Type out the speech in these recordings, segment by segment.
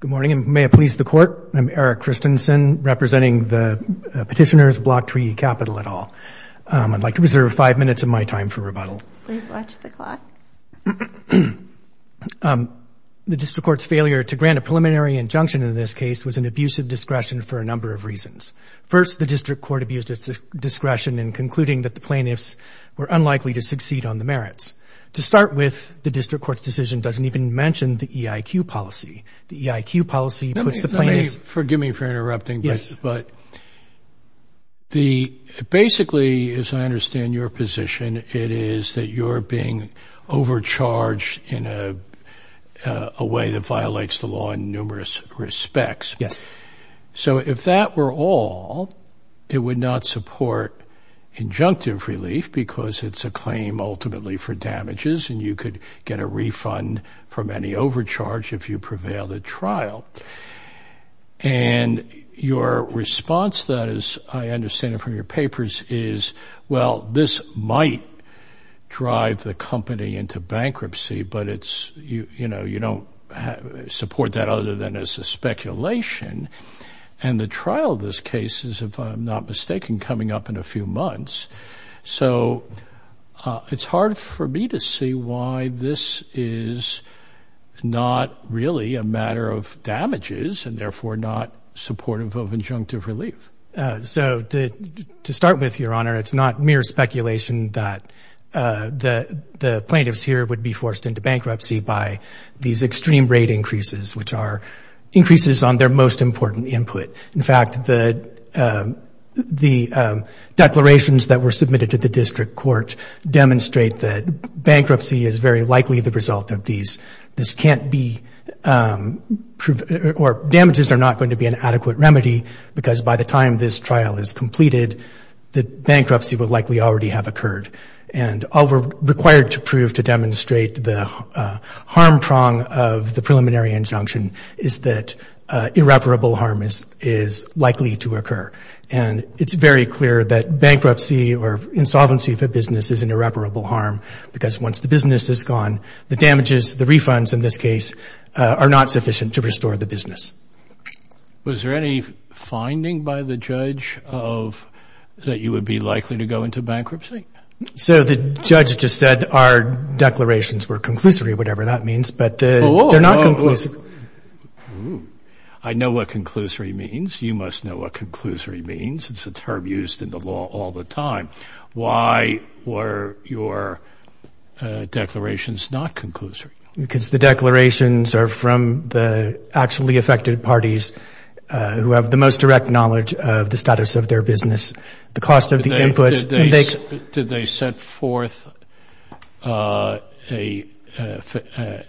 Good morning, and may it please the Court, I'm Eric Christensen, representing the petitioner's Blocktree Capital et al. I'd like to reserve five minutes of my time for rebuttal. Please watch the clock. The District Court's failure to grant a preliminary injunction in this case was an abuse of discretion for a number of reasons. First, the District Court abused its discretion in concluding that the plaintiffs were unlikely to succeed on the merits. To start with, the District Court's decision doesn't even mention the EIQ policy. The EIQ policy puts the plaintiffs— Forgive me for interrupting, but basically, as I understand your position, it is that you're being overcharged in a way that violates the law in numerous respects. So if that were all, it would not support injunctive relief because it's a claim ultimately for damages and you could get a refund from any overcharge if you prevail the trial. And your response to that, as I understand it from your papers, is, well, this might drive the company into bankruptcy, but it's, you know, you don't support that other than as a speculation. And the trial of this case is, if I'm not mistaken, coming up in a few months. So it's hard for me to see why this is not really a matter of damages and therefore not supportive of injunctive relief. So to start with, Your Honor, it's not mere speculation that the plaintiffs here would be forced into bankruptcy by these extreme rate increases, which are increases on their most the declarations that were submitted to the district court demonstrate that bankruptcy is very likely the result of these. This can't be—or damages are not going to be an adequate remedy because by the time this trial is completed, the bankruptcy would likely already have occurred. And all we're required to prove to demonstrate the harm prong of the preliminary injunction is that irreparable harm is likely to occur. And it's very clear that bankruptcy or insolvency of a business is an irreparable harm because once the business is gone, the damages, the refunds in this case, are not sufficient to restore the business. Was there any finding by the judge that you would be likely to go into bankruptcy? So the judge just said our declarations were conclusory, whatever that means, but they're not conclusory. I know what conclusory means. You must know what conclusory means. It's a term used in the law all the time. Why were your declarations not conclusory? Because the declarations are from the actually affected parties who have the most direct knowledge of the status of their business, the cost of the inputs. Did they set forth an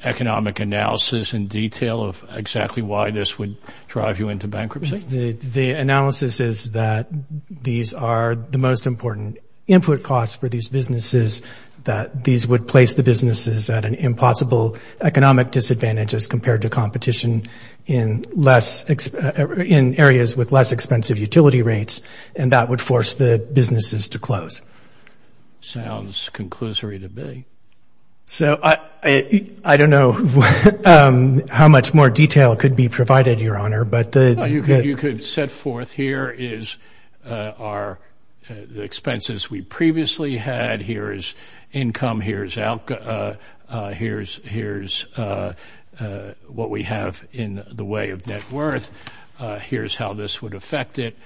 economic analysis in detail of exactly why this would drive you into bankruptcy? The analysis is that these are the most important input costs for these businesses, that these would place the businesses at an impossible economic disadvantage as compared to competition in areas with less expensive utility rates, and that would force the close. Sounds conclusory to me. So I don't know how much more detail could be provided, Your Honor. You could set forth here is the expenses we previously had. Here is income. Here's what we have in the way of net worth. Here's how this would affect it.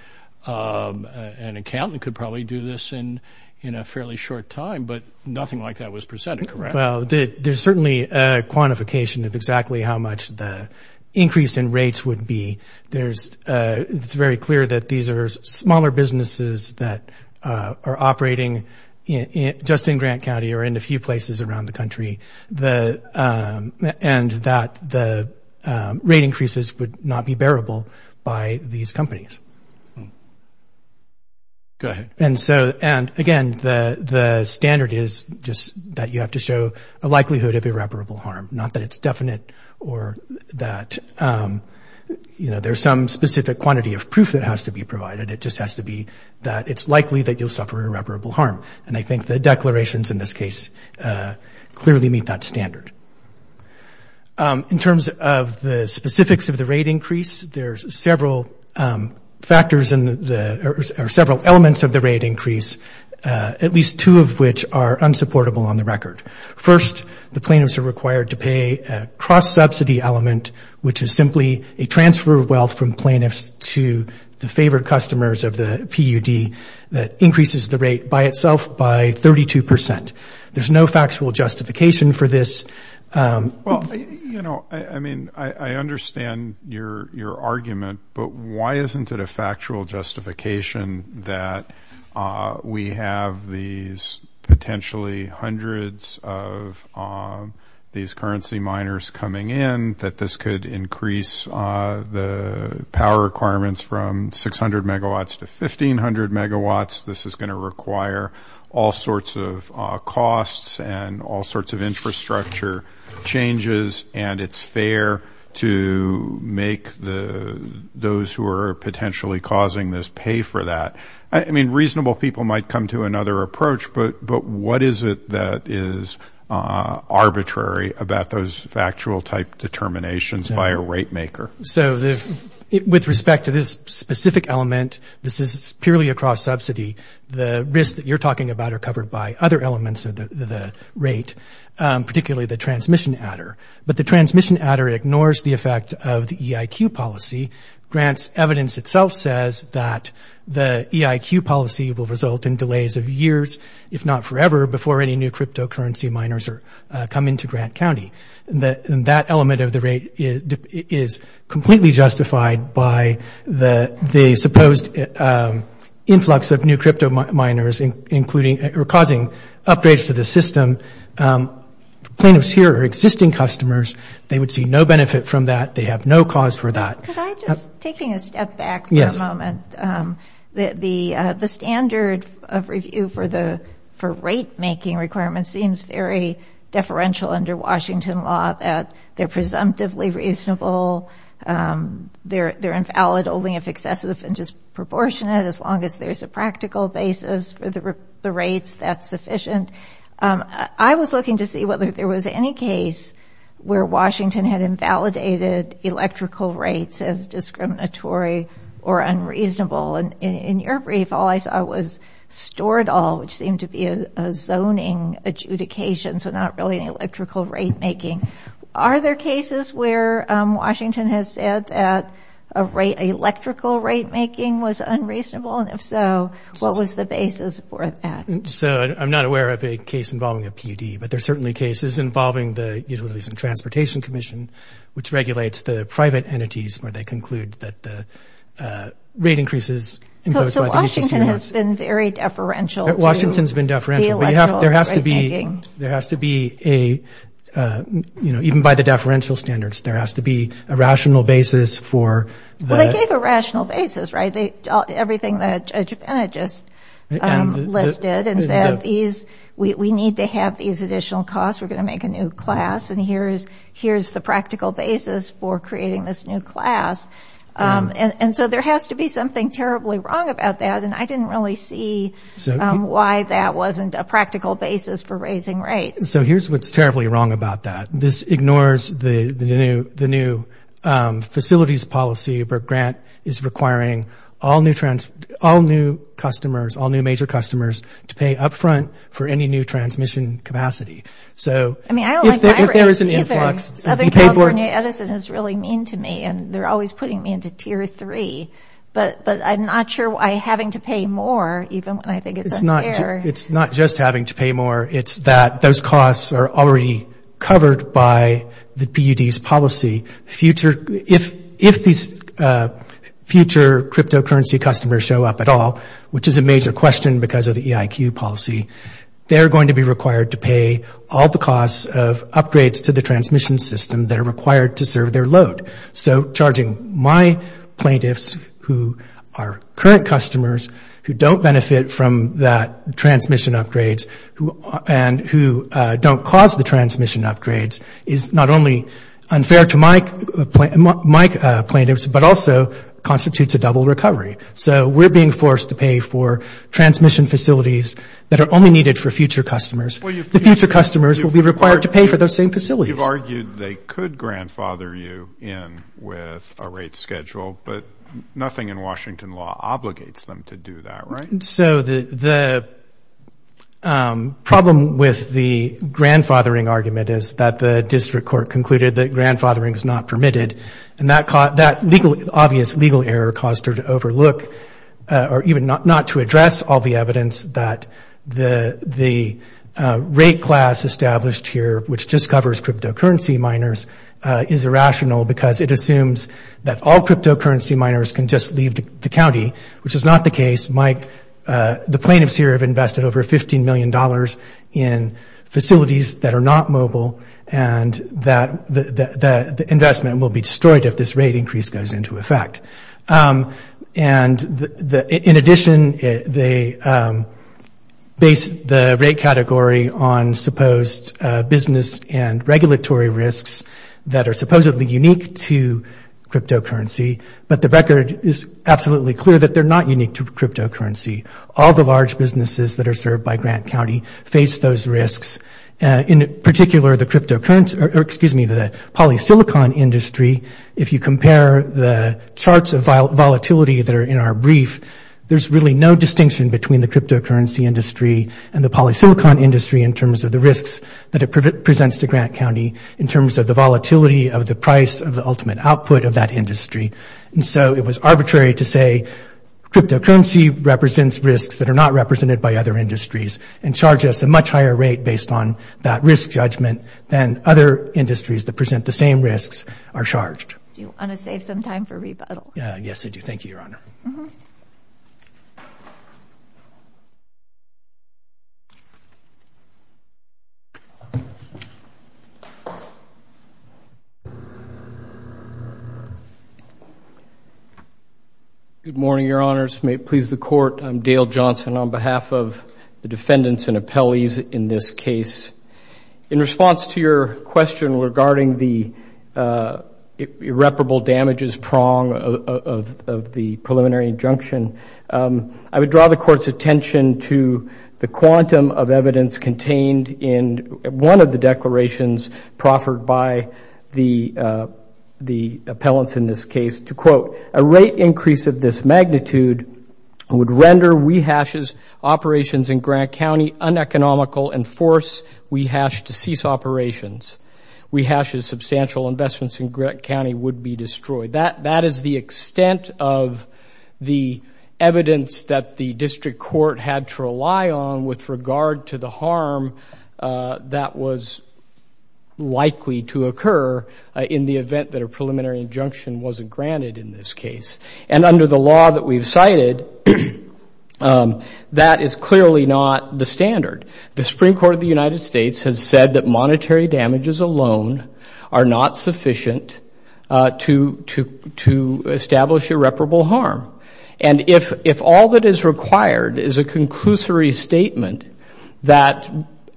An accountant could probably do this in a fairly short time, but nothing like that was presented, correct? Well, there's certainly a quantification of exactly how much the increase in rates would be. It's very clear that these are smaller businesses that are operating just in Grant County or in a few places around the country, and that the rate increases would not be bearable by these companies. Go ahead. And so, again, the standard is just that you have to show a likelihood of irreparable harm, not that it's definite or that there's some specific quantity of proof that has to be provided. It just has to be that it's likely that you'll suffer irreparable harm, and I think the declarations in this case clearly meet that standard. In terms of the specifics of the rate increase, there's several elements of the rate increase, at least two of which are unsupportable on the record. First, the plaintiffs are required to pay a cross-subsidy element, which is simply a transfer of wealth from plaintiffs to the favored customers of the PUD that increases the rate by itself by 32 percent. There's no factual justification for this. Well, you know, I mean, I understand your argument, but why isn't it a factual justification that we have these potentially hundreds of these currency miners coming in, that this could increase the power requirements from 600 megawatts to 1,500 megawatts? This is going to require all sorts of costs and all sorts of infrastructure changes, and it's fair to make those who are potentially causing this pay for that. I mean, reasonable people might come to another approach, but what is it that is arbitrary about those factual type determinations by a rate maker? So with respect to this specific element, this is purely a cross-subsidy. The risks that you're talking about are covered by other elements of the rate, particularly the transmission adder. But the transmission adder ignores the effect of the EIQ policy. Grant's evidence itself says that the EIQ policy will result in delays of years, if not forever, before any new cryptocurrency miners come into Grant County. And that element of the rate is completely justified by the supposed influx of new crypto miners, including or causing upgrades to the system. Plaintiffs here are existing customers. They would see no benefit from that. They have no cause for that. Could I just, taking a step back for a moment, the standard of review for rate making requirements seems very deferential under Washington law, that they're presumptively reasonable. They're invalid only if excessive and disproportionate, as long as there's a practical basis for the rates that's sufficient. I was looking to see whether there was any case where Washington had invalidated electrical rates as discriminatory or unreasonable. And in your adjudication, so not really an electrical rate making. Are there cases where Washington has said that a rate, electrical rate making was unreasonable? And if so, what was the basis for that? So I'm not aware of a case involving a PUD, but there are certainly cases involving the Utilities and Transportation Commission, which regulates the private entities where they conclude that the rate increases imposed by the UTC... So Washington has been very deferential to... There has to be a, you know, even by the deferential standards, there has to be a rational basis for the... Well, they gave a rational basis, right? Everything that Judge Pena just listed and said, we need to have these additional costs. We're going to make a new class and here's the practical basis for creating this new class. And so there has to be something wrong about that. And I didn't really see why that wasn't a practical basis for raising rates. So here's what's terribly wrong about that. This ignores the new facilities policy, but Grant is requiring all new customers, all new major customers to pay up front for any new transmission capacity. So if there is an influx... Southern California Edison is really mean to me and they're always putting me into tier three, but I'm not sure why having to pay more, even when I think it's unfair. It's not just having to pay more, it's that those costs are already covered by the PUD's policy. If these future cryptocurrency customers show up at all, which is a major question because of the EIQ policy, they're going to be required to pay all the costs of upgrades to the transmission system that are required to serve their load. So charging my plaintiffs, who are current customers, who don't benefit from that transmission upgrades and who don't cause the transmission upgrades is not only unfair to my plaintiffs, but also constitutes a double recovery. So we're being forced to pay for transmission facilities that are only needed for future customers. The future customers will be required to pay for those same facilities. You've argued they could grandfather you in with a rate schedule, but nothing in Washington law obligates them to do that, right? So the problem with the grandfathering argument is that the district court concluded that grandfathering is not permitted. And that obvious legal error caused her to overlook or even not to address all the evidence that the rate class established here, which just covers cryptocurrency miners, is irrational because it assumes that all cryptocurrency miners can just leave the county, which is not the case. Mike, the plaintiffs here have invested over $15 million in facilities that are not mobile, and that the investment will be destroyed if this rate increase goes into effect. And in addition, they base the rate category on supposed business and regulatory risks that are supposedly unique to cryptocurrency, but the record is absolutely clear that they're not unique to cryptocurrency. All the large businesses that are served by Grant County face those risks. In particular, the cryptocurrency, or excuse me, the polysilicon industry, if you compare the charts of volatility that are in our brief, there's really no distinction between the cryptocurrency industry and the polysilicon industry in terms of the risks that it presents to Grant County in terms of the volatility of the price of the ultimate output of that industry. And so it was arbitrary to say cryptocurrency represents risks that are not represented by other industries and charge us a much higher rate based on that risk judgment than other industries that present the same risks are charged. Do you want to save some time for rebuttal? Yes, I do. Thank you, Your Honor. Good morning, Your Honors. May it please the court. I'm Dale Johnson on behalf of defendants and appellees in this case. In response to your question regarding the irreparable damages prong of the preliminary injunction, I would draw the court's attention to the quantum of evidence contained in one of the declarations proffered by the appellants in this case. And under the law that we've cited, that is clearly not the standard. The Supreme Court of the United States has said that monetary damages alone are not sufficient to establish irreparable harm. And if all that is required is a conclusory statement that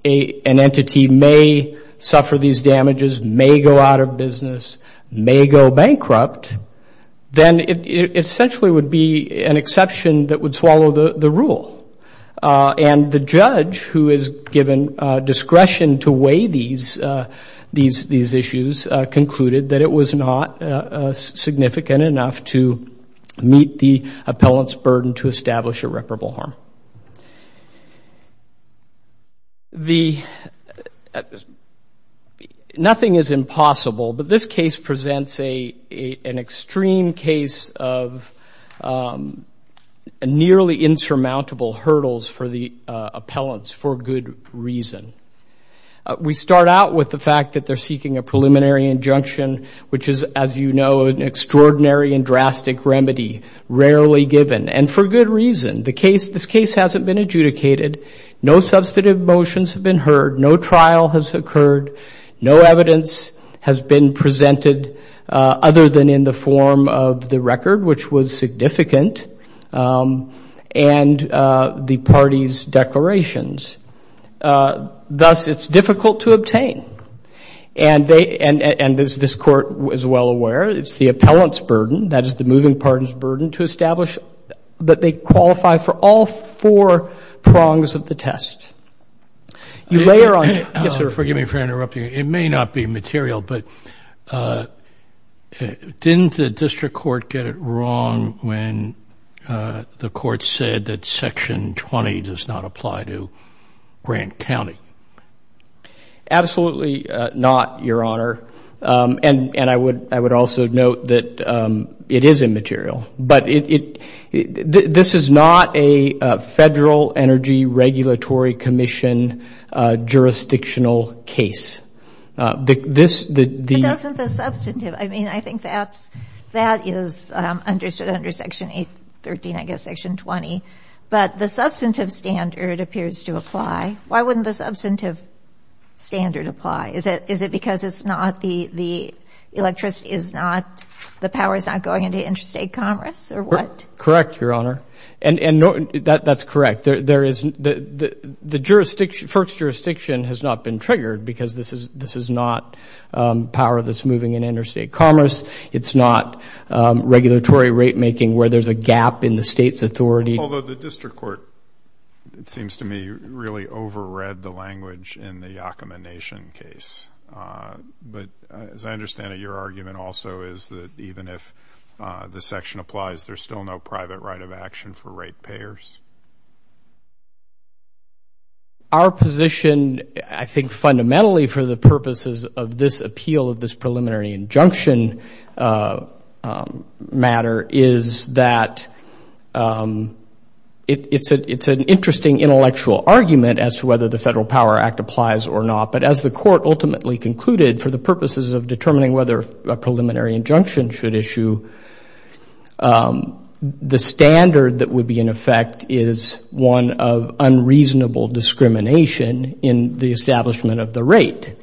an entity may suffer these damages, may go out of business, may go bankrupt, then it essentially would be an exception that would swallow the rule. And the judge who is given discretion to weigh these issues concluded that it was not significant enough to meet the appellant's burden to establish irreparable harm. Now, nothing is impossible, but this case presents an extreme case of nearly insurmountable hurdles for the appellants for good reason. We start out with the fact that they're seeking a preliminary injunction, which is, as you know, an extraordinary and drastic remedy, rarely given, and for good reason. This case hasn't been adjudicated. No substantive motions have been heard. No trial has occurred. No evidence has been presented other than in the form of the record, which was significant, and the party's declarations. Thus, it's difficult to establish that they qualify for all four prongs of the test. You layer on... Yes, sir. Forgive me for interrupting. It may not be material, but didn't the district court get it wrong when the court said that Section 20 does not apply to Grant County? Absolutely not, Your Honor, and I would also note that it is immaterial, but this is not a Federal Energy Regulatory Commission jurisdictional case. But doesn't the substantive... I mean, I think that is understood under Section 813, I guess, but the substantive standard appears to apply. Why wouldn't the substantive standard apply? Is it because the power is not going into interstate commerce or what? Correct, Your Honor, and that's correct. The first jurisdiction has not been triggered because this is not power that's moving in interstate commerce. It's not regulatory rate making where there's a Although the district court, it seems to me, really overread the language in the Yakima Nation case. But as I understand it, your argument also is that even if the section applies, there's still no private right of action for rate payers. Our position, I think, fundamentally for the purposes of this appeal of this preliminary injunction matter is that it's an interesting intellectual argument as to whether the Federal Power Act applies or not. But as the court ultimately concluded for the purposes of determining whether a preliminary injunction should issue, the standard that would be in effect is one of unreasonable discrimination in the establishment of the rate.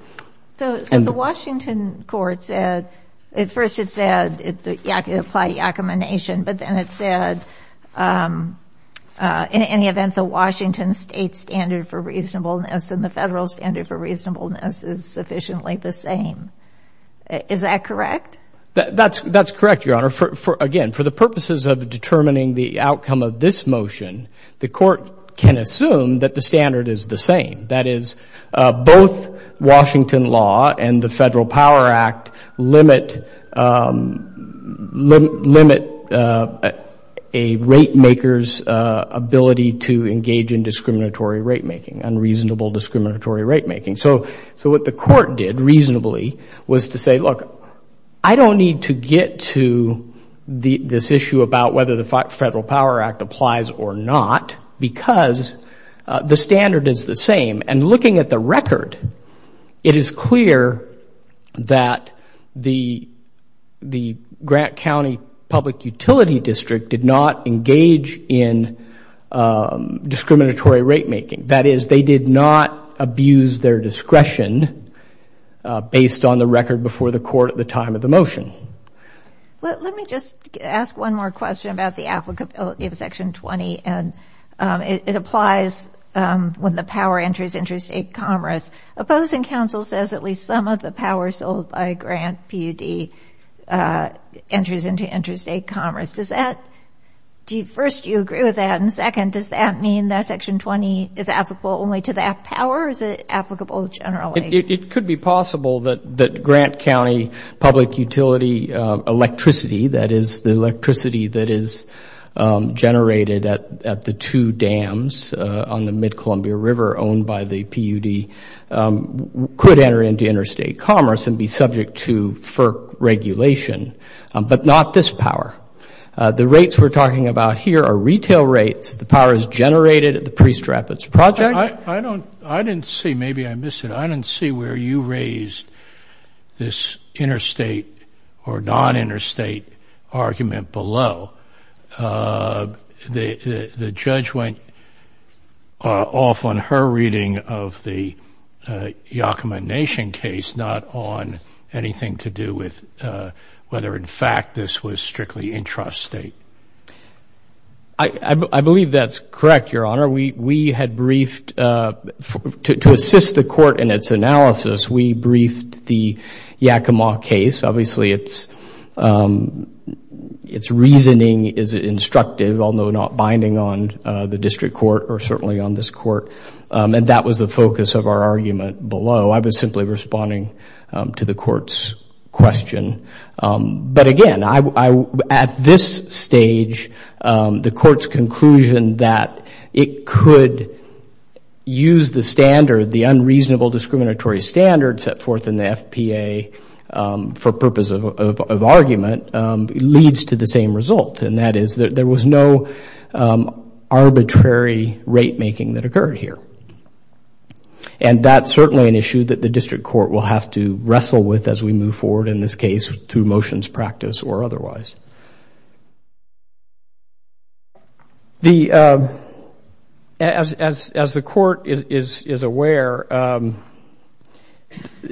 So the Washington court said, at first it said it applied Yakima Nation, but then it said in any event, the Washington state standard for reasonableness and the federal standard for reasonableness is sufficiently the same. Is that correct? That's correct, Your Honor. Again, for the purposes of determining the outcome of this motion, the court can assume that the standard is the same. That is, both Washington law and the Federal Power Act limit a rate maker's ability to engage in discriminatory rate making, unreasonable discriminatory rate making. So what the court did reasonably was to say, look, I don't need to get to this issue about whether the Federal Power Act applies or not because the standard is the same. And looking at the record, it is clear that the Grant County Public Utility District did not engage in discriminatory rate making. That is, they did not abuse their discretion based on the record before the court at the time of the motion. Let me just ask one more question about the applicability of Section 20. And it applies when the power enters interstate commerce. Opposing counsel says at least some of the power sold by Grant PUD enters into interstate commerce. First, do you agree with that? And second, does that mean that Section 20 is applicable only to that power or is it It could be possible that Grant County Public Utility electricity, that is, the electricity that is generated at the two dams on the Mid-Columbia River owned by the PUD, could enter into interstate commerce and be subject to FERC regulation, but not this power. The rates we're talking about here are retail rates. The power is generated at the Priest Project. I didn't see, maybe I missed it, I didn't see where you raised this interstate or non-interstate argument below. The judge went off on her reading of the Yakima Nation case, not on anything to do with whether, in fact, this was strictly intrastate. I believe that's correct, Your Honor. We had briefed, to assist the court in its analysis, we briefed the Yakima case. Obviously, its reasoning is instructive, although not binding on the district court or certainly on this court. And that was the focus of our argument below. I was simply responding to the court's question. But again, at this stage, the court's conclusion that it could use the standard, the unreasonable discriminatory standard set forth in the FPA, for purpose of argument, leads to the same result. And that is, there was no arbitrary rate making that occurred here. And that's certainly an issue that the district court will have to wrestle with as we move forward in this case, through motions, practice, or otherwise. As the court is aware,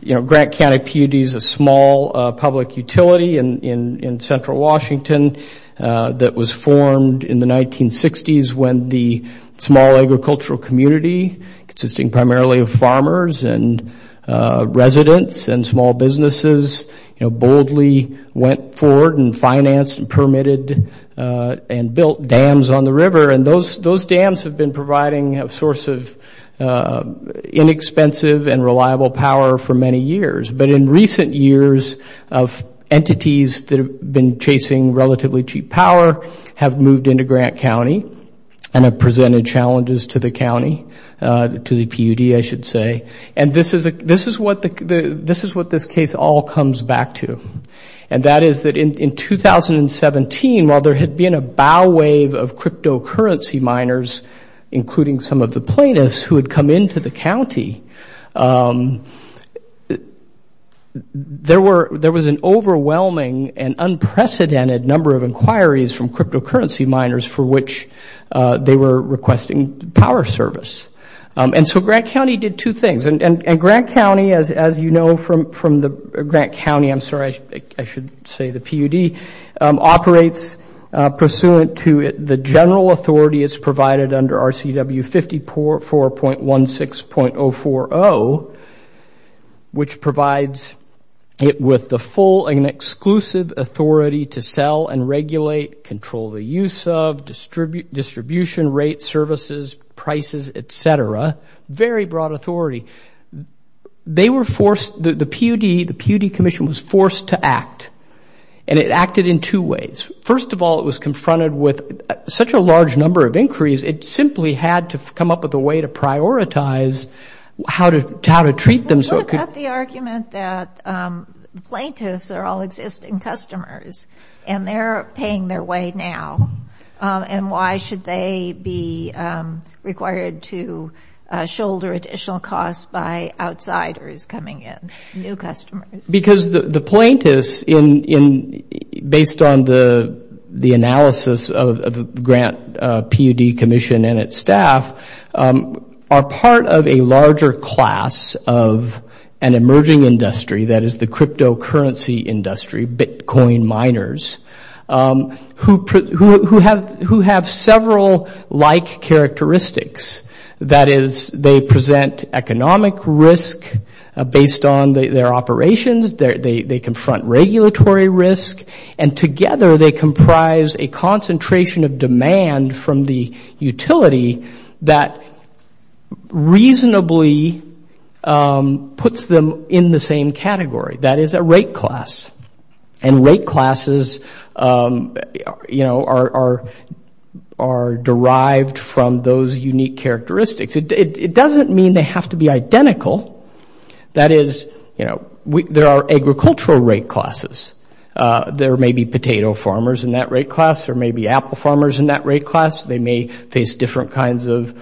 Grant County PUD is a small public utility in central Washington that was formed in the 1960s when the small agricultural community, consisting primarily of farmers and residents and small businesses, boldly went forward and financed and permitted and built dams on the river. And those dams have been providing a source of inexpensive and reliable power for many years. But in recent years, entities that have been chasing relatively cheap power have moved into Grant County and have presented challenges to the county, to the PUD, I should say. And this is what this case all comes back to. And that is that in 2017, while there had been a bow wave of cryptocurrency miners, including some of the plaintiffs who had come into the county, there was an overwhelming and unprecedented number of inquiries from cryptocurrency miners for which they were requesting power service. And so Grant County did two things. And Grant County, as you know from the Grant County, I'm sorry, I should say the PUD, operates pursuant to the general authority as provided under RCW 54.16.040, which provides it with the full and distribution rate, services, prices, et cetera, very broad authority. They were forced, the PUD, the PUD commission was forced to act. And it acted in two ways. First of all, it was confronted with such a large number of inquiries. It simply had to come up with a way to prioritize how to treat them so it could... What about the argument that plaintiffs are all existing customers and they're paying their way now? And why should they be required to shoulder additional costs by outsiders coming in, new customers? Because the plaintiffs, based on the analysis of the Grant PUD commission and its staff, are part of a larger class of an emerging industry that is the cryptocurrency industry, Bitcoin miners, who have several like characteristics. That is, they present economic risk based on their operations, they confront regulatory risk, and together they comprise a concentration of demand from the utility that reasonably puts them in the same category. That is a rate class. And rate classes are derived from those unique characteristics. It doesn't mean they have to be identical. That is, there are agricultural rate classes. There may be potato farmers in that rate class. There may be apple farmers in that rate class. They may face different kinds of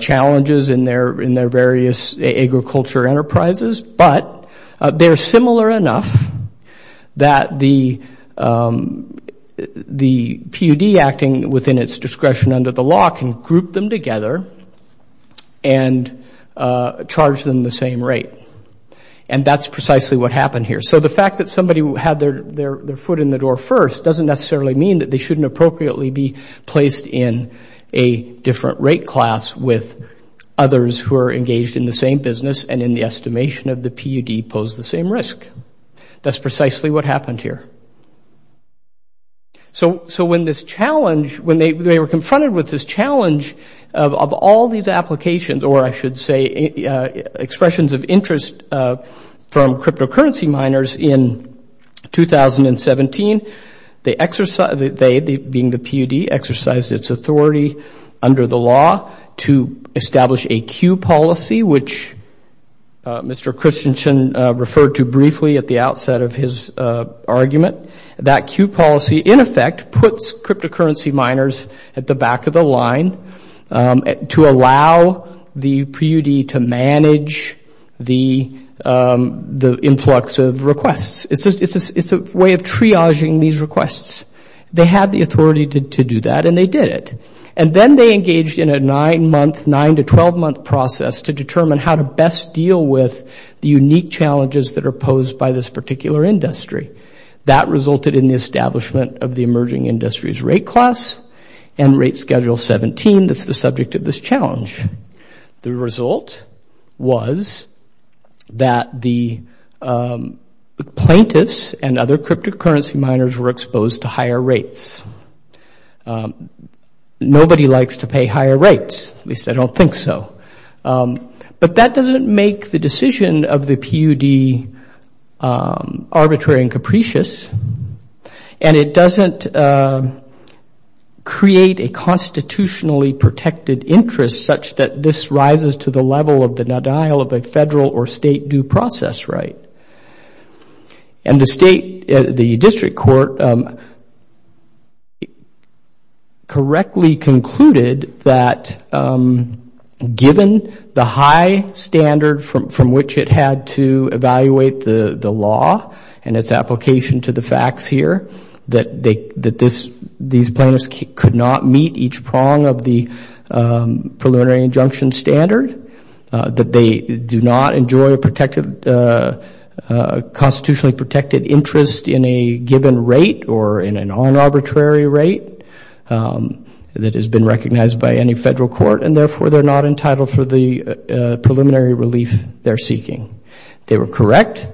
challenges in their various agriculture enterprises. But they're similar enough that the PUD acting within its discretion under the law can group them together and charge them the same rate. And that's precisely what happened here. So the fact that somebody had their foot in the door first doesn't necessarily mean that they shouldn't appropriately be placed in a different rate class with others who are engaged in the business and in the estimation of the PUD pose the same risk. That's precisely what happened here. So when this challenge, when they were confronted with this challenge of all these applications, or I should say expressions of interest from cryptocurrency miners in 2017, they exercised, they being the PUD, exercised its authority under the law to establish a queue policy, which Mr. Christensen referred to briefly at the outset of his argument. That queue policy, in effect, puts cryptocurrency miners at the back of the line to allow the PUD to manage the influx of requests. It's a way of triaging these requests. They had the authority to do that and they did it. And then they engaged in a nine-month, nine-to-12-month process to determine how to best deal with the unique challenges that are posed by this particular industry. That resulted in the establishment of the emerging industries rate class and rate schedule 17 that's the subject of this challenge. The result was that the plaintiffs and other people, nobody likes to pay higher rates, at least I don't think so. But that doesn't make the decision of the PUD arbitrary and capricious and it doesn't create a constitutionally protected interest such that this rises to the level of the denial of a federal or state due process right. And the state, the district court correctly concluded that given the high standard from which it had to evaluate the law and its application to the facts here, that these plaintiffs could not meet each prong of the preliminary injunction standard, that they do not enjoy a protected, constitutionally protected interest in a given rate or in an un-arbitrary rate that has been recognized by any federal court and therefore they're not entitled for the preliminary relief they're seeking. They were correct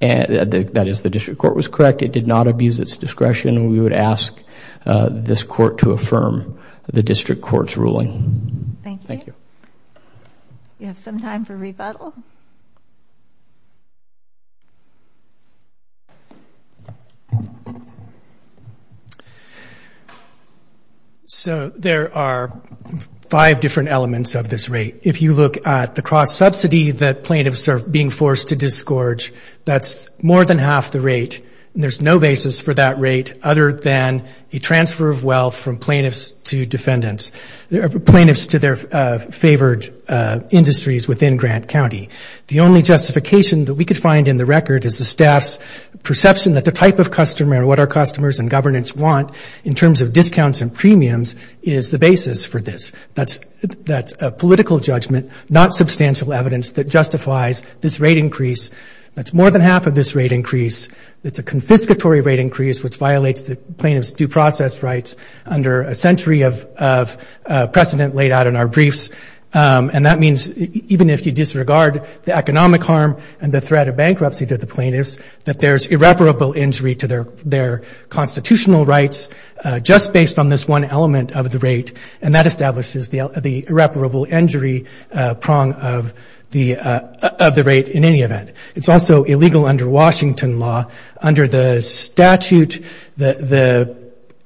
and that is the district court was correct. It did not abuse its discretion. We would ask this court to affirm the district court's decision. You have some time for rebuttal. So there are five different elements of this rate. If you look at the cross subsidy that plaintiffs are being forced to disgorge, that's more than half the rate and there's no basis for that rate other than a transfer of wealth from plaintiffs to defendants, plaintiffs to their favored industries within Grant County. The only justification that we could find in the record is the staff's perception that the type of customer or what our customers and governance want in terms of discounts and premiums is the basis for this. That's a political judgment, not substantial evidence that justifies this rate increase. That's more than half of this rate increase. It's a confiscatory rate increase which violates the plaintiff's due process rights under a century of precedent laid out in our briefs and that means even if you disregard the economic harm and the threat of bankruptcy to the plaintiffs that there's irreparable injury to their constitutional rights just based on this one element of the rate and that establishes the irreparable injury prong of the rate in any event. It's also illegal under Washington law under the statute that the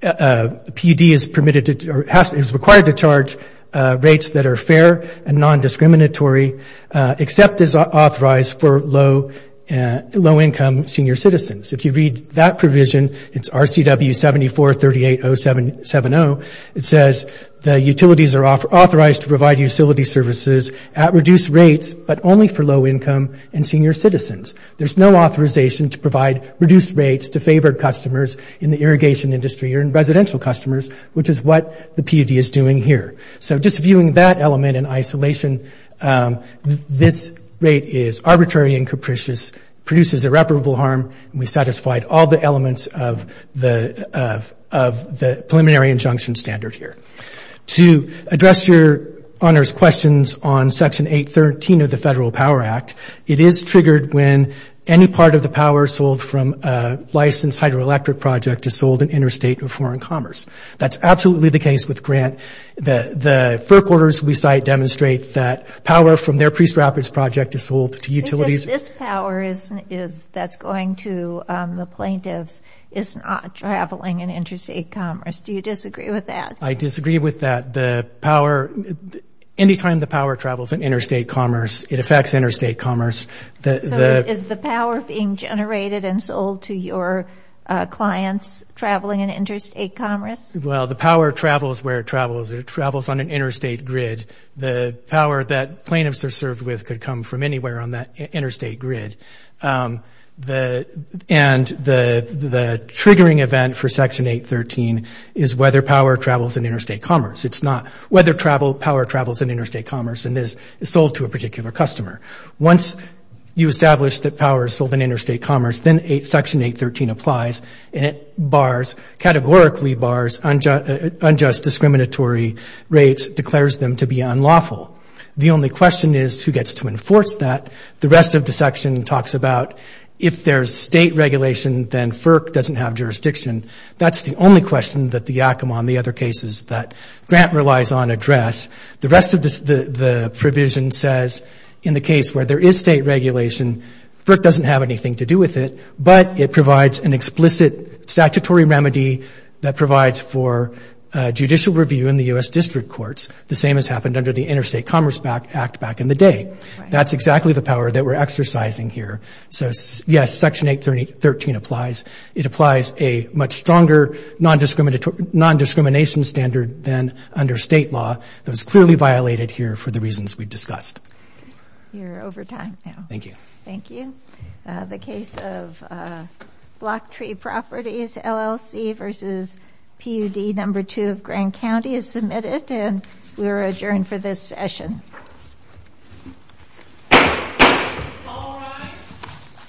PUD is permitted to or is required to charge rates that are fair and non-discriminatory except as authorized for low income senior citizens. If you read that provision, it's RCW 7438070, it says the utilities are authorized to provide utility services at reduced rates but only for low income and senior citizens. There's no authorization to provide reduced rates to favored customers in the irrigation industry or in residential customers which is what the PUD is doing here. So just viewing that element in isolation, this rate is the elements of the of the preliminary injunction standard here. To address your honors questions on section 813 of the Federal Power Act, it is triggered when any part of the power sold from a licensed hydroelectric project is sold in interstate or foreign commerce. That's absolutely the case with Grant. The the forequarters we cite demonstrate that power from is not traveling in interstate commerce. Do you disagree with that? I disagree with that. The power, anytime the power travels in interstate commerce, it affects interstate commerce. Is the power being generated and sold to your clients traveling in interstate commerce? Well, the power travels where it travels. It travels on an interstate grid. The power that plaintiffs are served with could come from anywhere on that interstate grid. And the triggering event for section 813 is whether power travels in interstate commerce. It's not whether power travels in interstate commerce and is sold to a particular customer. Once you establish that power is sold in interstate commerce, then section 813 applies and it bars, categorically bars, unjust discriminatory rates, declares them to be unlawful. The only question is who gets to enforce that. The rest of the section talks about if there's state regulation, then FERC doesn't have jurisdiction. That's the only question that the Yakima and the other cases that Grant relies on address. The rest of this, the provision says in the case where there is state regulation, FERC doesn't have anything to do with it, but it provides an explicit statutory remedy that provides for judicial review in the U.S. district courts, the same as happened under the Interstate Commerce Act back in the day. That's exactly the power that we're exercising here. So yes, section 813 applies. It applies a much stronger non-discrimination standard than under state law that was clearly violated here for the reasons we discussed. You're over time now. Thank you. Thank you. The case of Block Tree Properties LLC versus PUD number two of Grant County is submitted and we are adjourned for this session.